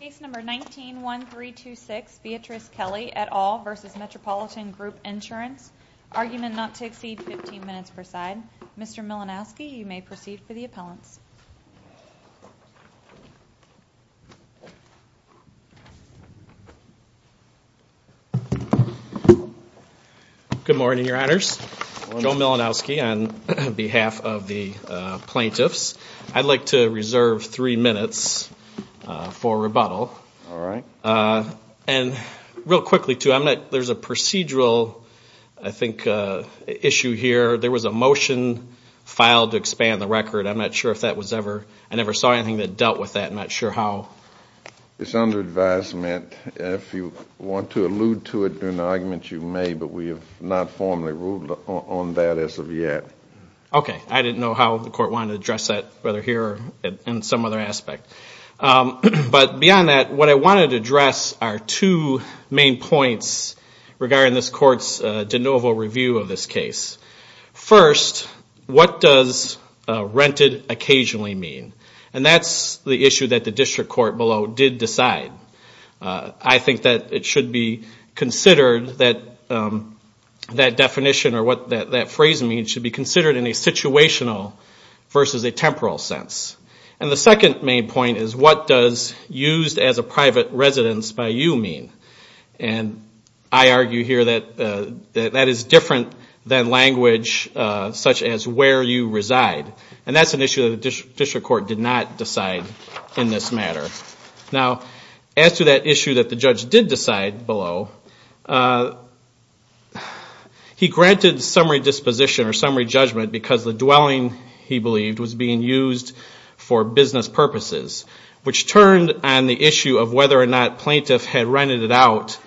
Case number 19-1326, Beatrice Kelly et al. v. Metropolitan Group Insurance. Argument not to exceed 15 minutes per side. Mr. Milanowski, you may proceed for the appellants. Good morning, your honors. Joe Milanowski on behalf of the All right. And real quickly, too, I'm not, there's a procedural, I think, issue here. There was a motion filed to expand the record. I'm not sure if that was ever, I never saw anything that dealt with that. I'm not sure how. It's under advisement. If you want to allude to it, do an argument, you may, but we have not formally ruled on that as of yet. Okay, I didn't know how the court wanted to address our two main points regarding this court's de novo review of this case. First, what does rented occasionally mean? And that's the issue that the district court below did decide. I think that it should be considered that definition or what that phrase means should be considered in a situational versus a temporal sense. And the second main point is what does used as a private residence by you mean? And I argue here that that is different than language such as where you reside. And that's an issue that the district court did not decide in this matter. Now, as to that issue that the judge did decide below, he granted summary disposition or summary judgment because the dwelling he believed was being used for business purposes, which turned on the issue of whether or not plaintiff had rented it out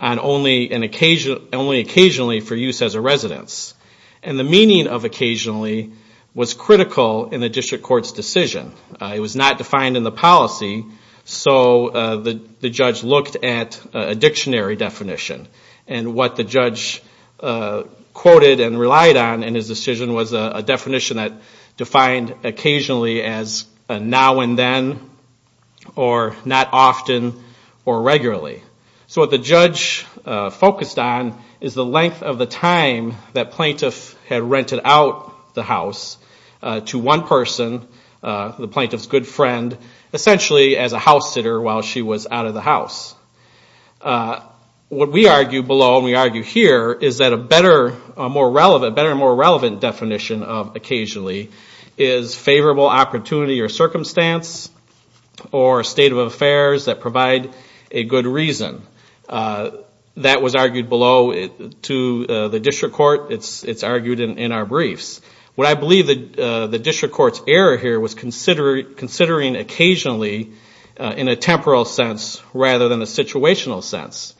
only occasionally for use as a residence. And the meaning of occasionally was critical in the district court's decision. It was not defined in the policy, so the judge looked at a dictionary definition. And what the judge quoted and relied on in his decision was a definition that defined occasionally as now and then or not often or regularly. So what the judge focused on is the length of the time that plaintiff had rented out the house to one person, the plaintiff's good friend, essentially as a house sitter while she was out of the house. What we argue below and we argue here is that a better and more relevant definition of occasionally is favorable opportunity or circumstance or state of affairs that provide a good reason. That was argued below to the district court. It's argued in our briefs. What I believe the district court's error here was considering occasionally in a temporal sense rather than a situational sense.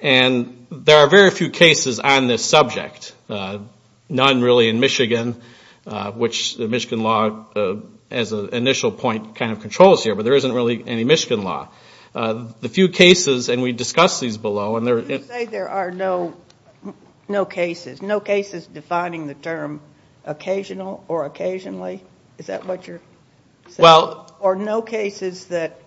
And the re are very few cases on this subject, none really in Michigan, which the Michigan law as an initial point kind of controls here, but there isn't really any Michigan law. The few cases, and we discussed these below. You say there are no cases, no cases defining the term occasional or occasionally? Is that what you're saying? Or no cases that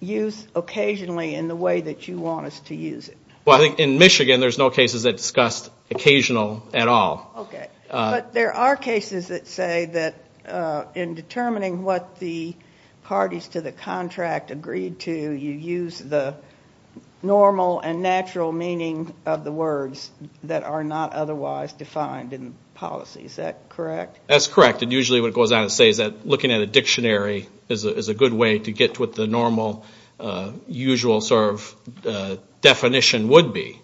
use occasionally in the way that you want us to use it? Well, I think in Michigan there's no cases that discuss occasional at all. Okay. But there are cases that say that in determining what the parties to the contract agreed to, you use the normal and natural meaning of the words that are not otherwise defined in policy. Is that correct? That's correct. And usually what it goes on to say is that looking at a dictionary is a good way to get to what the normal, usual sort of definition would be.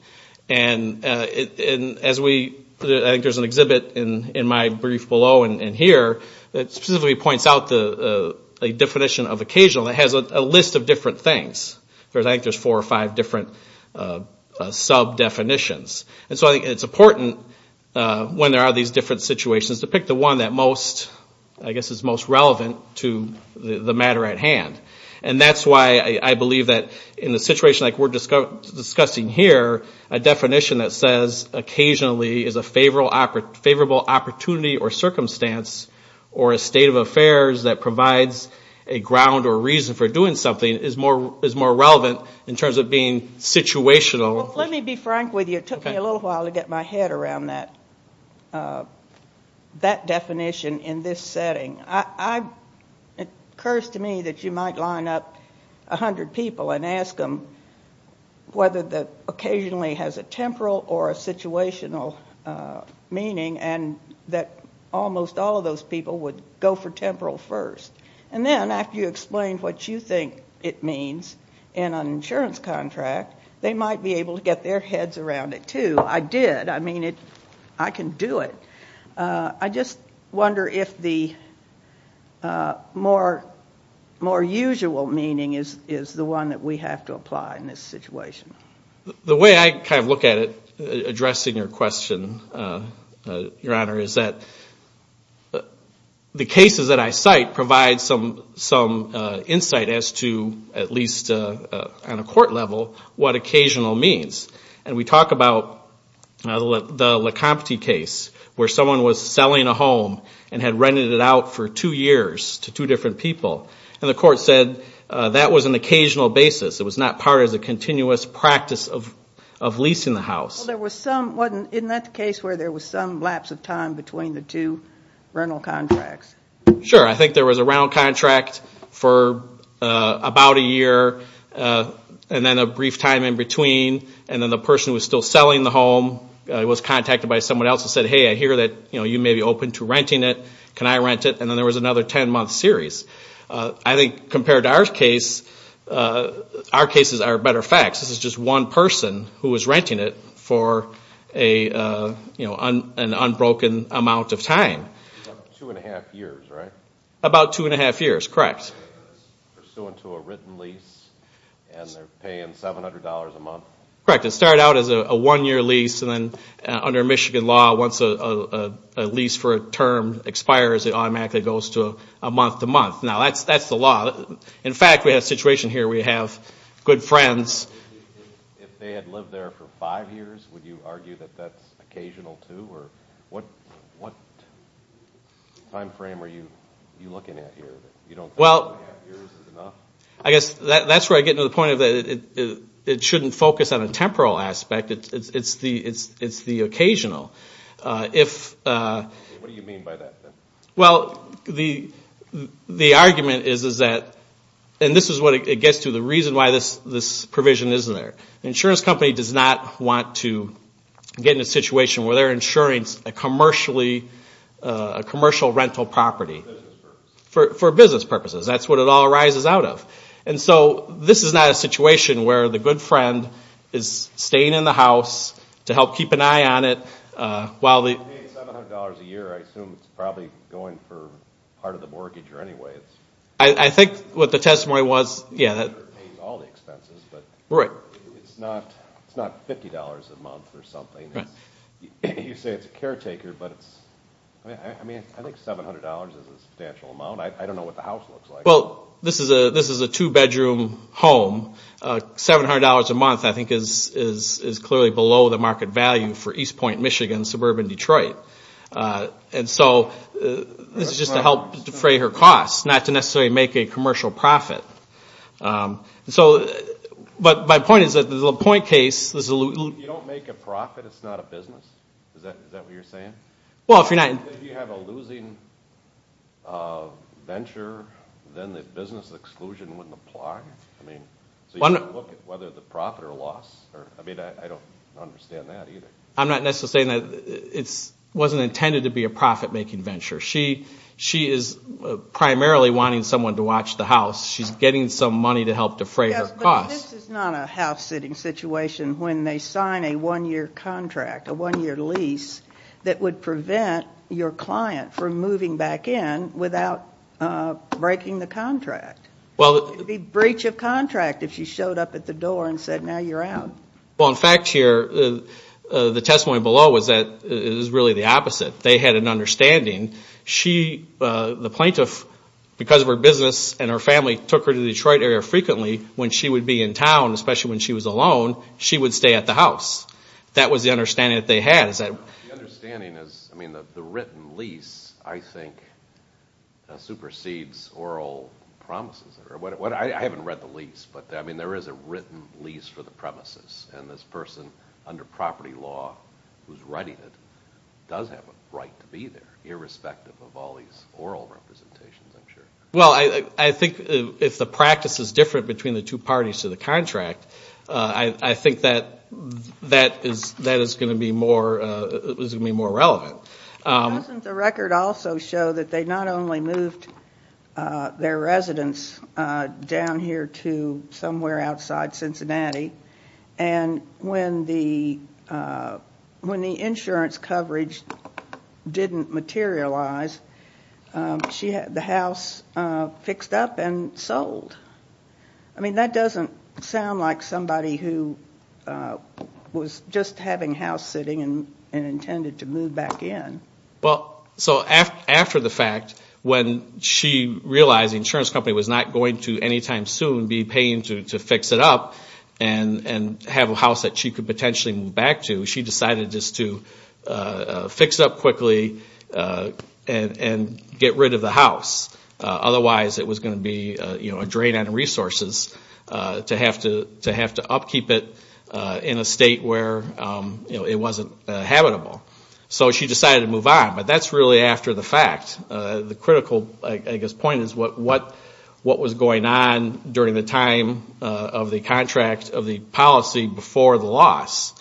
And as we, I think there's an exhibit in my brief below and here that specifically points out a definition of occasional that has a list of different things. I think there's four or five different sub-definitions. And so I think it's important when there are these different situations to pick the one that most, I guess is most relevant to the matter at hand. And that's why I believe that in a situation like we're discussing here, a definition that says occasionally is a favorable opportunity or circumstance or a state of affairs that provides a ground or reason for doing something is more relevant in terms of being situational. Let me be frank with you. It took me a little while to get my head around that definition in this setting. It occurs to me that you might line up a hundred people and ask them whether the occasionally has a temporal or a situational meaning and that almost all of those people would go for temporal first. And then after you explain what you think it means in an insurance contract, they might be able to get their heads around it too. I did. I mean, I can do it. I just wonder if the more usual meaning is the one that we have to apply in this situation. The way I kind of look at it, addressing your question, Your Honor, is that the cases that I cite provide some insight as to, at least on a court level, what occasional means. And we talk about the Lecompte case where someone was selling a home and had rented it out for two years to two different people. And the person was still selling the home. It was contacted by someone else and said, hey, I hear that you may be open to renting it. Can I rent it? And then there was another ten-month series. I think compared to our case, our cases are one person who was renting it for an unbroken amount of time. About two and a half years, right? About two and a half years, correct. Pursuant to a written lease and they're paying $700 a month. Correct. It started out as a one-year lease and then under Michigan law, once a lease for a term expires, it automatically goes to a month-to-month. Now, that's the law. In fact, we have a situation here, we have good friends. If they had lived there for five years, would you argue that that's occasional too? What time frame are you looking at here? I guess that's where I get to the point of it shouldn't focus on a temporal aspect. It's the occasional. What do you mean by that? The argument is that, and this is what it gets to, the reason why this provision isn't there. The insurance company does not want to get in a situation where they're insuring a commercial rental property. For business purposes, that's what it all arises out of. This is not a situation where the good friend is staying in the house to help keep an eye on it. If they're paying $700 a year, I assume it's probably going for part of the mortgage or anyway. It's not $50 a month or something. You say it's a caretaker, but I think $700 is a substantial amount. I don't know what the house looks like. This is a two-bedroom home. $700 a month I think is clearly below the market value for East Point, Michigan, suburban Detroit. This is just to help defray her costs, not to necessarily make a commercial profit. My point is that the LaPointe case... You don't make a profit, it's not a business? Is that what you're saying? If you have a losing venture, then the business exclusion wouldn't apply? So you don't look at whether the profit or loss? I don't understand that either. I'm not necessarily saying that. It wasn't intended to be a profit making venture. She is primarily wanting someone to watch the house. She's getting some money to help defray her costs. This is not a house-sitting situation when they sign a one-year lease that would prevent your client from moving back in without breaking the contract. It would be breach of contract if she showed up at the door and said, now you're out. In fact, the testimony below is really the opposite. They had an understanding. The plaintiff, because of her business and her family, took her to the Detroit area frequently. When she would be in town, especially when she was alone, she would stay at the house. That was the understanding that they had. The written lease, I think, supersedes oral promises. I haven't read the lease, but there is a written lease for the premises, and this person under property law who's writing it does have a right to be there, irrespective of all these oral representations, I'm sure. I think if the practice is different between the two parties to the contract, I think that is going to be more relevant. Doesn't the record also show that they not only moved their residence down here to somewhere outside Cincinnati, and when the insurance coverage didn't materialize, the house fixed up and sold? That doesn't sound like somebody who was just having house-sitting and intended to move back in. After the fact, when she realized the insurance company was not going to, anytime soon, be paying to fix it up and have a house that she could potentially move back to, she decided just to fix it up quickly and get rid of the house. Otherwise it was going to be a drain on resources to have to upkeep it in a state where it wasn't habitable. So she decided to move on, but that's really after the fact. The critical point is what was going on during the time of the contract of the policy before the loss.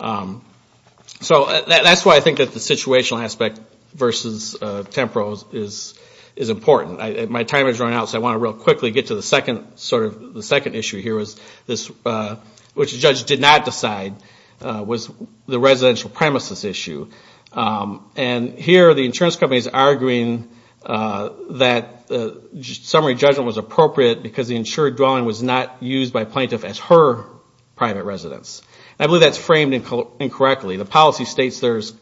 So that's why I think that the situational aspect versus Tempro is important. My time has run out, so I want to real quickly get to the second issue here, which the judge did not decide was the residential premises issue. And here the insurance company is arguing that the summary judgment was appropriate because the insured dwelling was not used by plaintiff as her private residence. I believe that's framed incorrectly. The policy states there's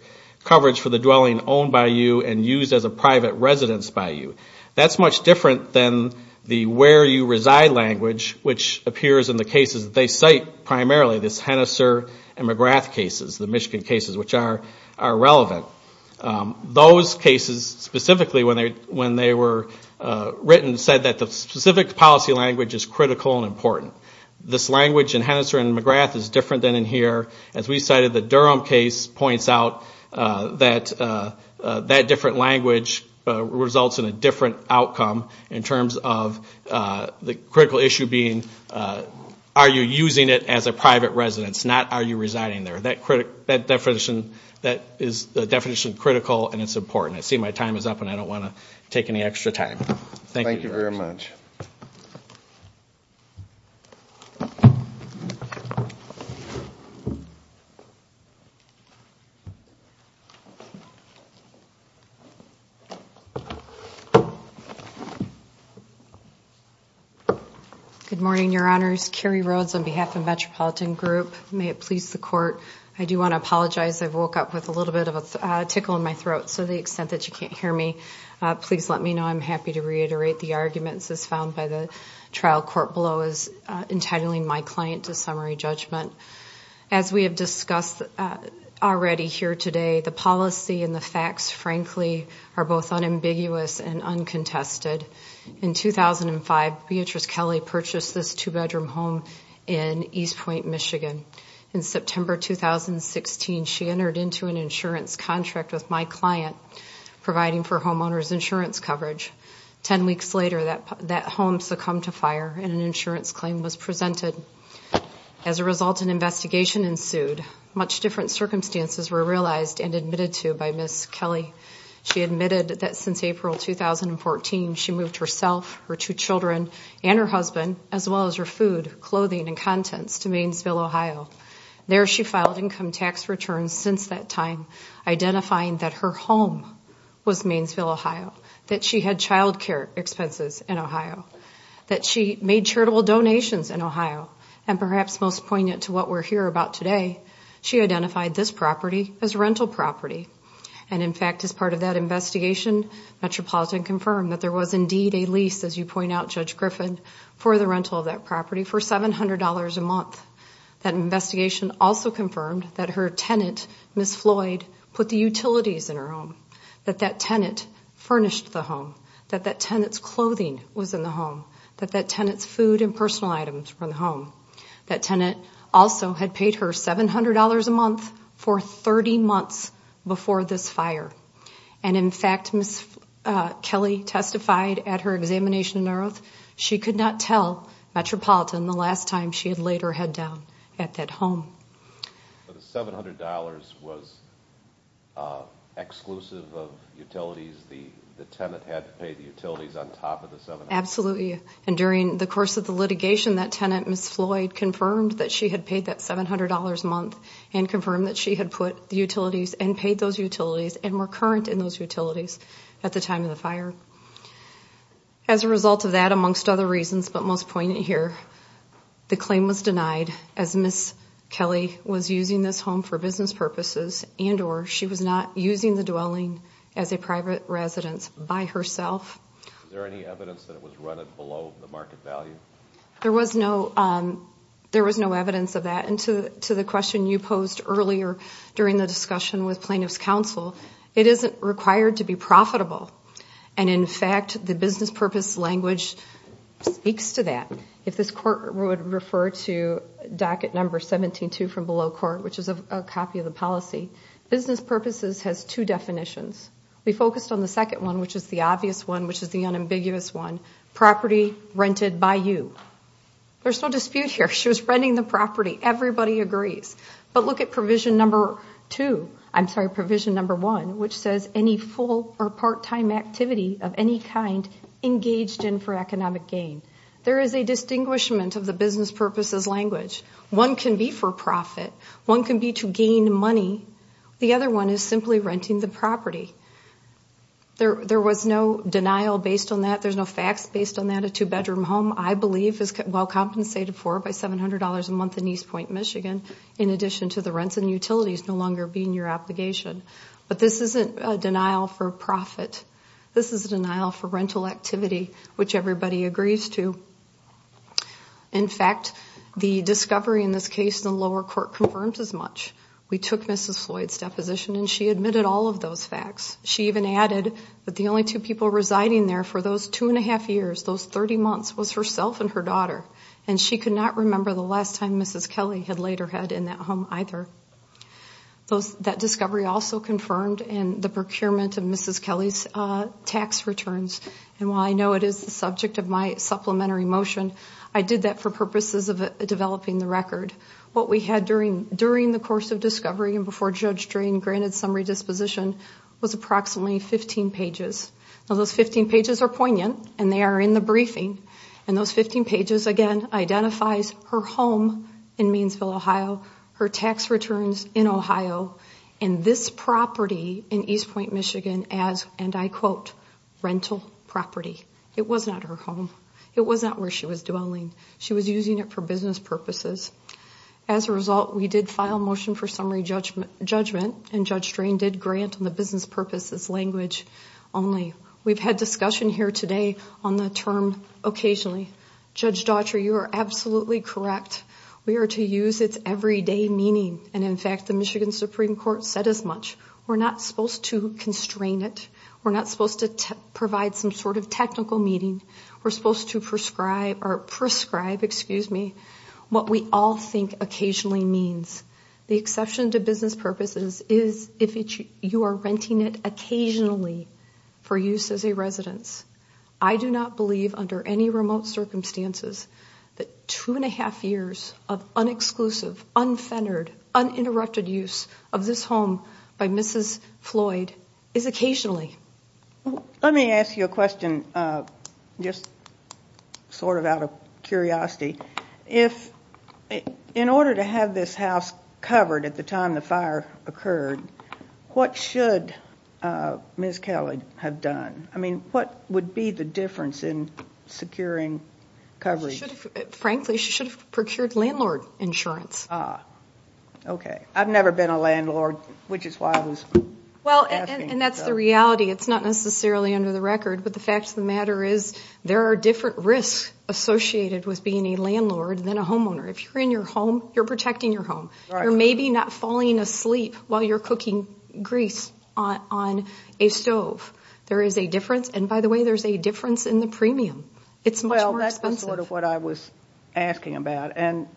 coverage for the dwelling owned by you and used as a private residence by you. That's much different than the where you reside language which appears in the cases that they cite primarily, this Hennesser and McGrath cases, the Michigan cases, which are relevant. Those cases specifically when they were written said that the specific policy language is critical and important. This language in Hennesser and McGrath is different than in here. As we cited, the Durham case points out that that different language results in a different outcome in terms of the critical issue being are you using it as a private residence, not are you residing there. That definition is critical and it's important. I see my time is up and I don't want to take any extra time. Thank you. Good morning, your honors. Carrie Rhodes on behalf of Metropolitan Group. May it please the court. I do want to apologize. I woke up with a little bit of a tickle in my throat. To the extent that you can't hear me, please let me know. I'm happy to reiterate the arguments as found by the trial court below as was entitling my client to summary judgment. As we have discussed already here today, the policy and the facts, frankly, are both unambiguous and uncontested. In 2005, Beatrice Kelly purchased this two-bedroom home in East Point, Michigan. In September 2016, she entered into an insurance contract with my client, providing for homeowners insurance coverage. Ten weeks later, that home succumbed to fire and an insurance claim was presented. As a result, an investigation ensued. Much different circumstances were realized and admitted to by Ms. Kelly. She admitted that since April 2014, she moved herself, her two children, and her husband, as well as her food, clothing, and contents to Maynesville, Ohio. There she filed income tax returns since that time, identifying that her home was Maynesville, Ohio, that she had childcare expenses in Ohio, that she made charitable donations in Ohio, and perhaps most poignant to what we're here about today, she identified this property as a rental property. And in fact, as part of that investigation, Metropolitan confirmed that there was indeed a lease, as you point out, Judge Griffin, for the rental of that property for $700 a month. That investigation also confirmed that her tenant, Ms. Floyd, put the utilities in her home, that that tenant furnished the home, that that tenant's clothing was in the home, that that tenant's food and personal items were in the home. That tenant also had paid her $700 a month for 30 months before this fire. And in fact, Ms. Kelly testified at her examination in Narrowth, she could not tell Metropolitan the last time she had laid her head down at that home. But the $700 was exclusive of utilities? The tenant had to pay the utilities on top of the $700? Absolutely. And during the course of the litigation, that tenant, Ms. Floyd, confirmed that she had paid that $700 a month and confirmed that she had put the utilities and paid those utilities and were current in those utilities at the time of the fire. As a result of that, amongst other reasons, but most poignant here, the claim was denied as Ms. Kelly was using this home for business purposes and or she was not using the dwelling as a private residence by herself. Is there any evidence that it was rented below the market value? There was no evidence of that. And to the question you posed earlier during the discussion with Plaintiffs' Counsel, it isn't required to be profitable. And in fact, the business purpose language speaks to that. The court would refer to docket number 17-2 from below court, which is a copy of the policy. Business purposes has two definitions. We focused on the second one, which is the obvious one, which is the unambiguous one, property rented by you. There's no dispute here. She was renting the property. Everybody agrees. But look at provision number two, I'm sorry, provision number one, which says any full or part-time activity of any kind engaged in for economic gain. There is a distinguishment of the business purposes language. One can be for profit. One can be to gain money. The other one is simply renting the property. There was no denial based on that. There's no facts based on that. A two-bedroom home, I believe, is well compensated for by $700 a month in East Point, Michigan, in addition to the rents and utilities no longer being your obligation. But this isn't a denial for profit. This is a denial for rental activity, which everybody agrees to. In fact, the discovery in this case in the lower court confirms as much. We took Mrs. Floyd's deposition, and she admitted all of those facts. She even added that the only two people residing there for those two and a half years, those 30 months, was herself and her daughter, and she could not remember the last time Mrs. Kelly had laid her head in that home either. That discovery also confirmed the procurement of Mrs. Kelly's tax returns. And while I know it is the subject of my supplementary motion, I did that for purposes of developing the record. What we had during the course of discovery and before Judge Drain granted summary disposition was approximately 15 pages. Now those 15 pages are poignant, and they are in the briefing. And those 15 pages, again, identifies her home in Meansville, Ohio, her tax returns in Ohio, and this property in East Point, Michigan as, and I quote, rental property. It was not her home. It was not where she was dwelling. She was using it for business purposes. As a result, we did file a motion for summary judgment, and Judge Drain did grant on the business purposes language only. We've had discussion here today on the term occasionally. Judge Daughtry, you are absolutely correct. We are to use its everyday meaning. And in fact, the Michigan Supreme Court said as much. We're not supposed to constrain it. We're not supposed to provide some sort of technical meaning. We're supposed to prescribe, or prescribe, excuse me, what we all think occasionally means. The exception to business purposes is if you are renting it occasionally for use as a residence. I do not believe under any remote circumstances that two and a half years of unexclusive, unfettered, uninterrupted use of this home by Mrs. Floyd is occasionally. Let me ask you a question, just sort of out of curiosity. In order to have this house covered at the time the fire occurred, what should Ms. Kelly have done? I mean, what would be the difference in securing coverage? Frankly, she should have procured landlord insurance. Okay. I've never been a landlord, which is why I was asking. And that's the reality. It's not necessarily under the record. But the fact of the matter is there are different risks associated with being a landlord than a homeowner. If you're in your home, you're protecting your home. You're maybe not falling asleep while you're cooking grease on a stove. There is a difference. And by the way, there's a difference in the premium. It's much more expensive. Well, that's sort of what I was asking about. And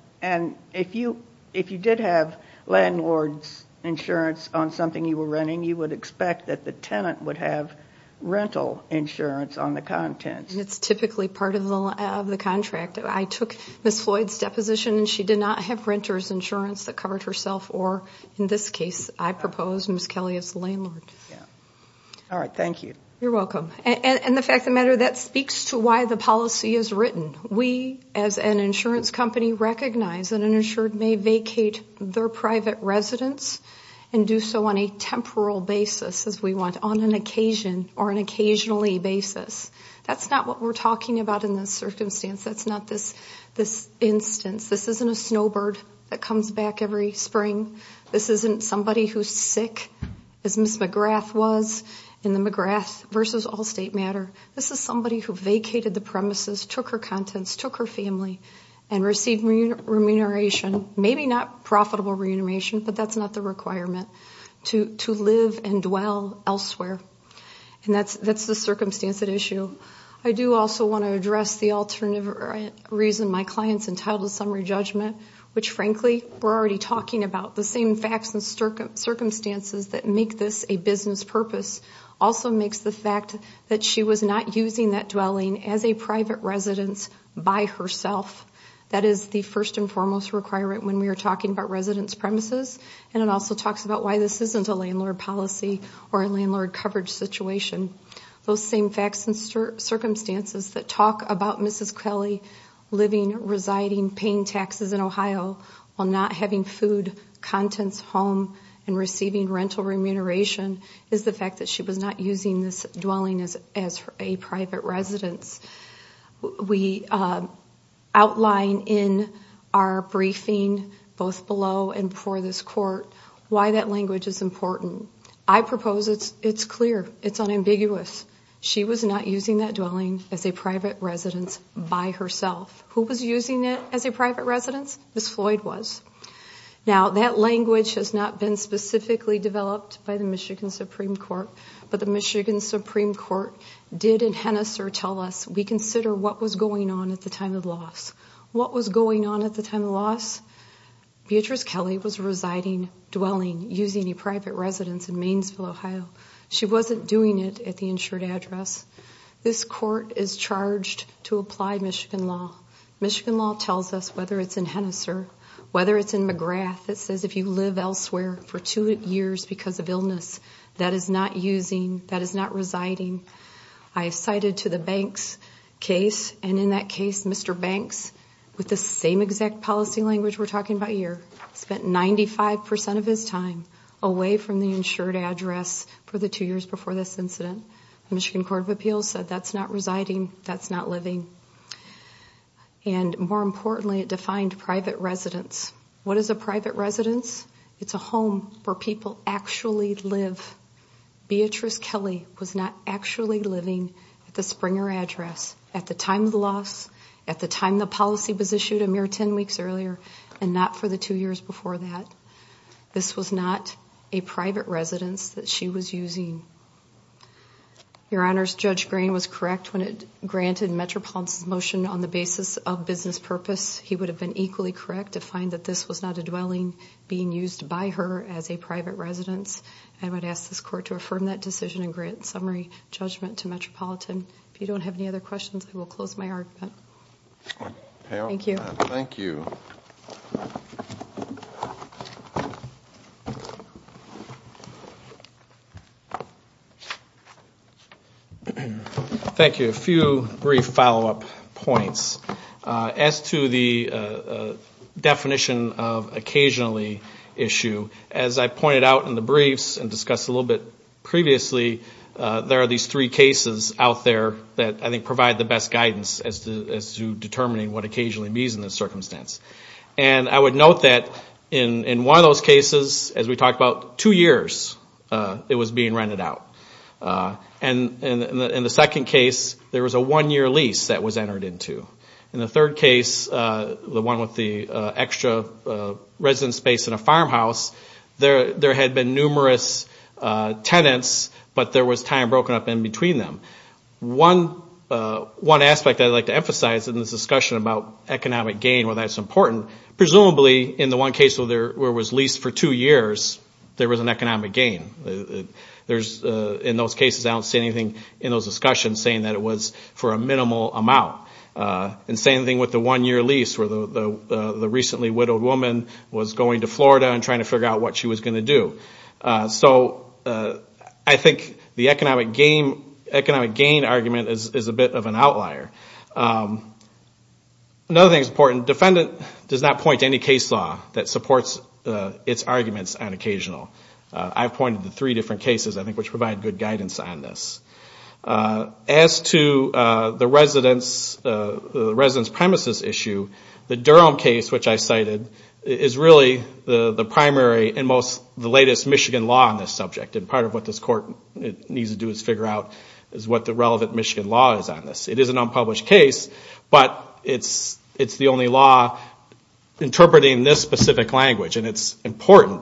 if you did have landlord's insurance on something you were renting, you would expect that the tenant would have rental insurance on the contents. And it's typically part of the contract. I took Ms. Floyd's deposition, and she did not have renter's insurance that covered herself. Or in this case, I propose Ms. Kelly as the landlord. All right. Thank you. You're welcome. And the fact of the matter, that speaks to why the policy is written. We, as an insurance company, recognize that an insured may vacate their private residence and do so on a temporal basis, as we want. On an occasion or an occasionally basis. That's not what we're talking about in this circumstance. That's not this instance. This isn't a snowbird that comes back every spring. This isn't somebody who's sick, as Ms. McGrath was in the McGrath v. Allstate matter. This is somebody who vacated the premises, took her contents, took her family, and received remuneration. Maybe not profitable remuneration, but that's not the requirement. To live and dwell elsewhere. And that's the circumstance at issue. I do also want to address the alternative reason my client's entitled to summary judgment. Which, frankly, we're already talking about. The same facts and circumstances that make this a business purpose also makes the fact that she was not using that dwelling as a private residence by herself. That is the first and foremost requirement when we are talking about residence premises. And it also talks about why this isn't a landlord policy or a landlord coverage situation. Those same facts and circumstances that talk about Mrs. Kelly living, residing, paying taxes in Ohio, while not having food, contents, home, and receiving rental remuneration, is the fact that she was not using this dwelling as a private residence. We outline in our briefing, both below and before this court, why that language is important. I propose it's clear, it's unambiguous. She was not using that dwelling as a private residence by herself. Who was using it as a private residence? Ms. Floyd was. Now, that language has not been specifically developed by the Michigan Supreme Court, but the Michigan Supreme Court did in Hennesser tell us we consider what was going on at the time of loss. What was going on at the time of loss? Beatrice Kelly was residing, dwelling, using a private residence in Maynesville, Ohio. She wasn't doing it at the insured address. This court is charged to apply Michigan law. Michigan law tells us, whether it's in Hennesser, whether it's in McGrath, it says if you live elsewhere for two years because of illness, that is not using, that is not residing. I cited to the Banks case, and in that case, Mr. Banks, with the same exact policy language we're talking about here, spent 95 percent of his time away from the insured address for the two years before this incident. The Michigan Court of Appeals said that's not residing, that's not living. And more importantly, it defined private residence. What is a private residence? It's a home where people actually live. Beatrice Kelly was not actually living at the Springer address at the time of the loss, at the time the policy was issued a mere 10 weeks earlier, and not for the two years before that. This was not a private residence that she was using. Your Honors, Judge Green was correct when it granted Metropolitan's motion on the basis of business purpose. He would have been equally correct to find that this was not a dwelling being used by her as a private residence. I would ask this court to affirm that decision and grant summary judgment to Metropolitan. If you don't have any other questions, I will close my argument. Thank you. Thank you. A few brief follow-up points. As to the definition of occasionally issue, as I pointed out in the briefs and discussed a little bit previously, there are these three cases out there that I think provide the best guidance as to determining what occasionally means in this circumstance. And I would note that in one of those cases, as we talked about, two years it was being rented out. And in the second case, there was a one-year lease that was entered into. In the third case, the one with the extra residence space in a farmhouse, there had been numerous tenants, but there was time broken up in between them. One aspect I'd like to emphasize in this discussion about economic gain, while that's important, presumably in the one case where it was leased for two years, there was an economic gain. In those cases, I don't see anything in those discussions saying that it was for a minimal amount. And same thing with the one-year lease, where the recently widowed woman was going to Florida and trying to figure out what she was going to do. So I think the economic gain argument is a bit of an outlier. Another thing that's important, defendant does not point to any case law that supports its arguments on occasional. I've pointed to three different cases, I think, which provide good guidance on this. As to the residence premises issue, the Durham case, which I cited, is really the primary and most, the latest Michigan law on this subject. And part of what this Court needs to do is figure out what the relevant Michigan law is on this. It is an unpublished case, but it's the only law interpreting this specific language. And it's important,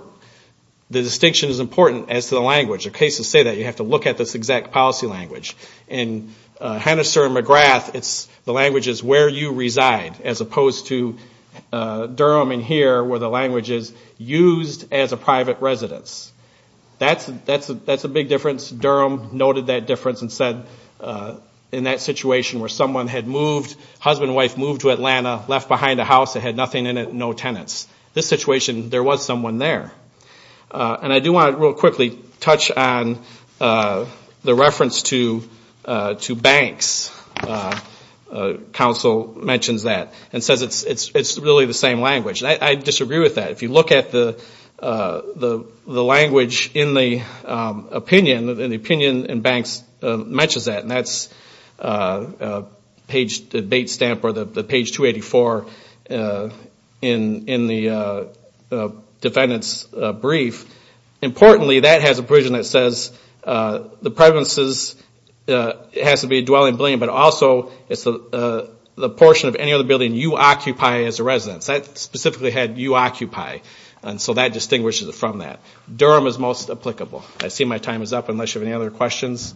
the distinction is important as to the language. The cases say that you have to look at this exact policy language. In Hennesser and McGrath, the language is where you reside, as opposed to Durham and here, where the language is used as a private residence. That's a big difference. Durham noted that difference and said in that situation where someone had moved, husband and wife moved to Atlanta, left behind a house that had nothing in it, no tenants. This situation, there was someone there. And I do want to real quickly touch on the reference to Banks. Counsel mentions that and says it's really the same language. I disagree with that. If you look at the language in the opinion, the opinion in Banks mentions that. And that's page, the bait stamp or the page 284 in the defendant's brief. Importantly, that has a provision that says the presence has to be a dwelling building, but also it's the portion of any other building you occupy as a residence. That specifically had you occupy. So that distinguishes it from that. Durham is most applicable. I see my time is up unless you have any other questions.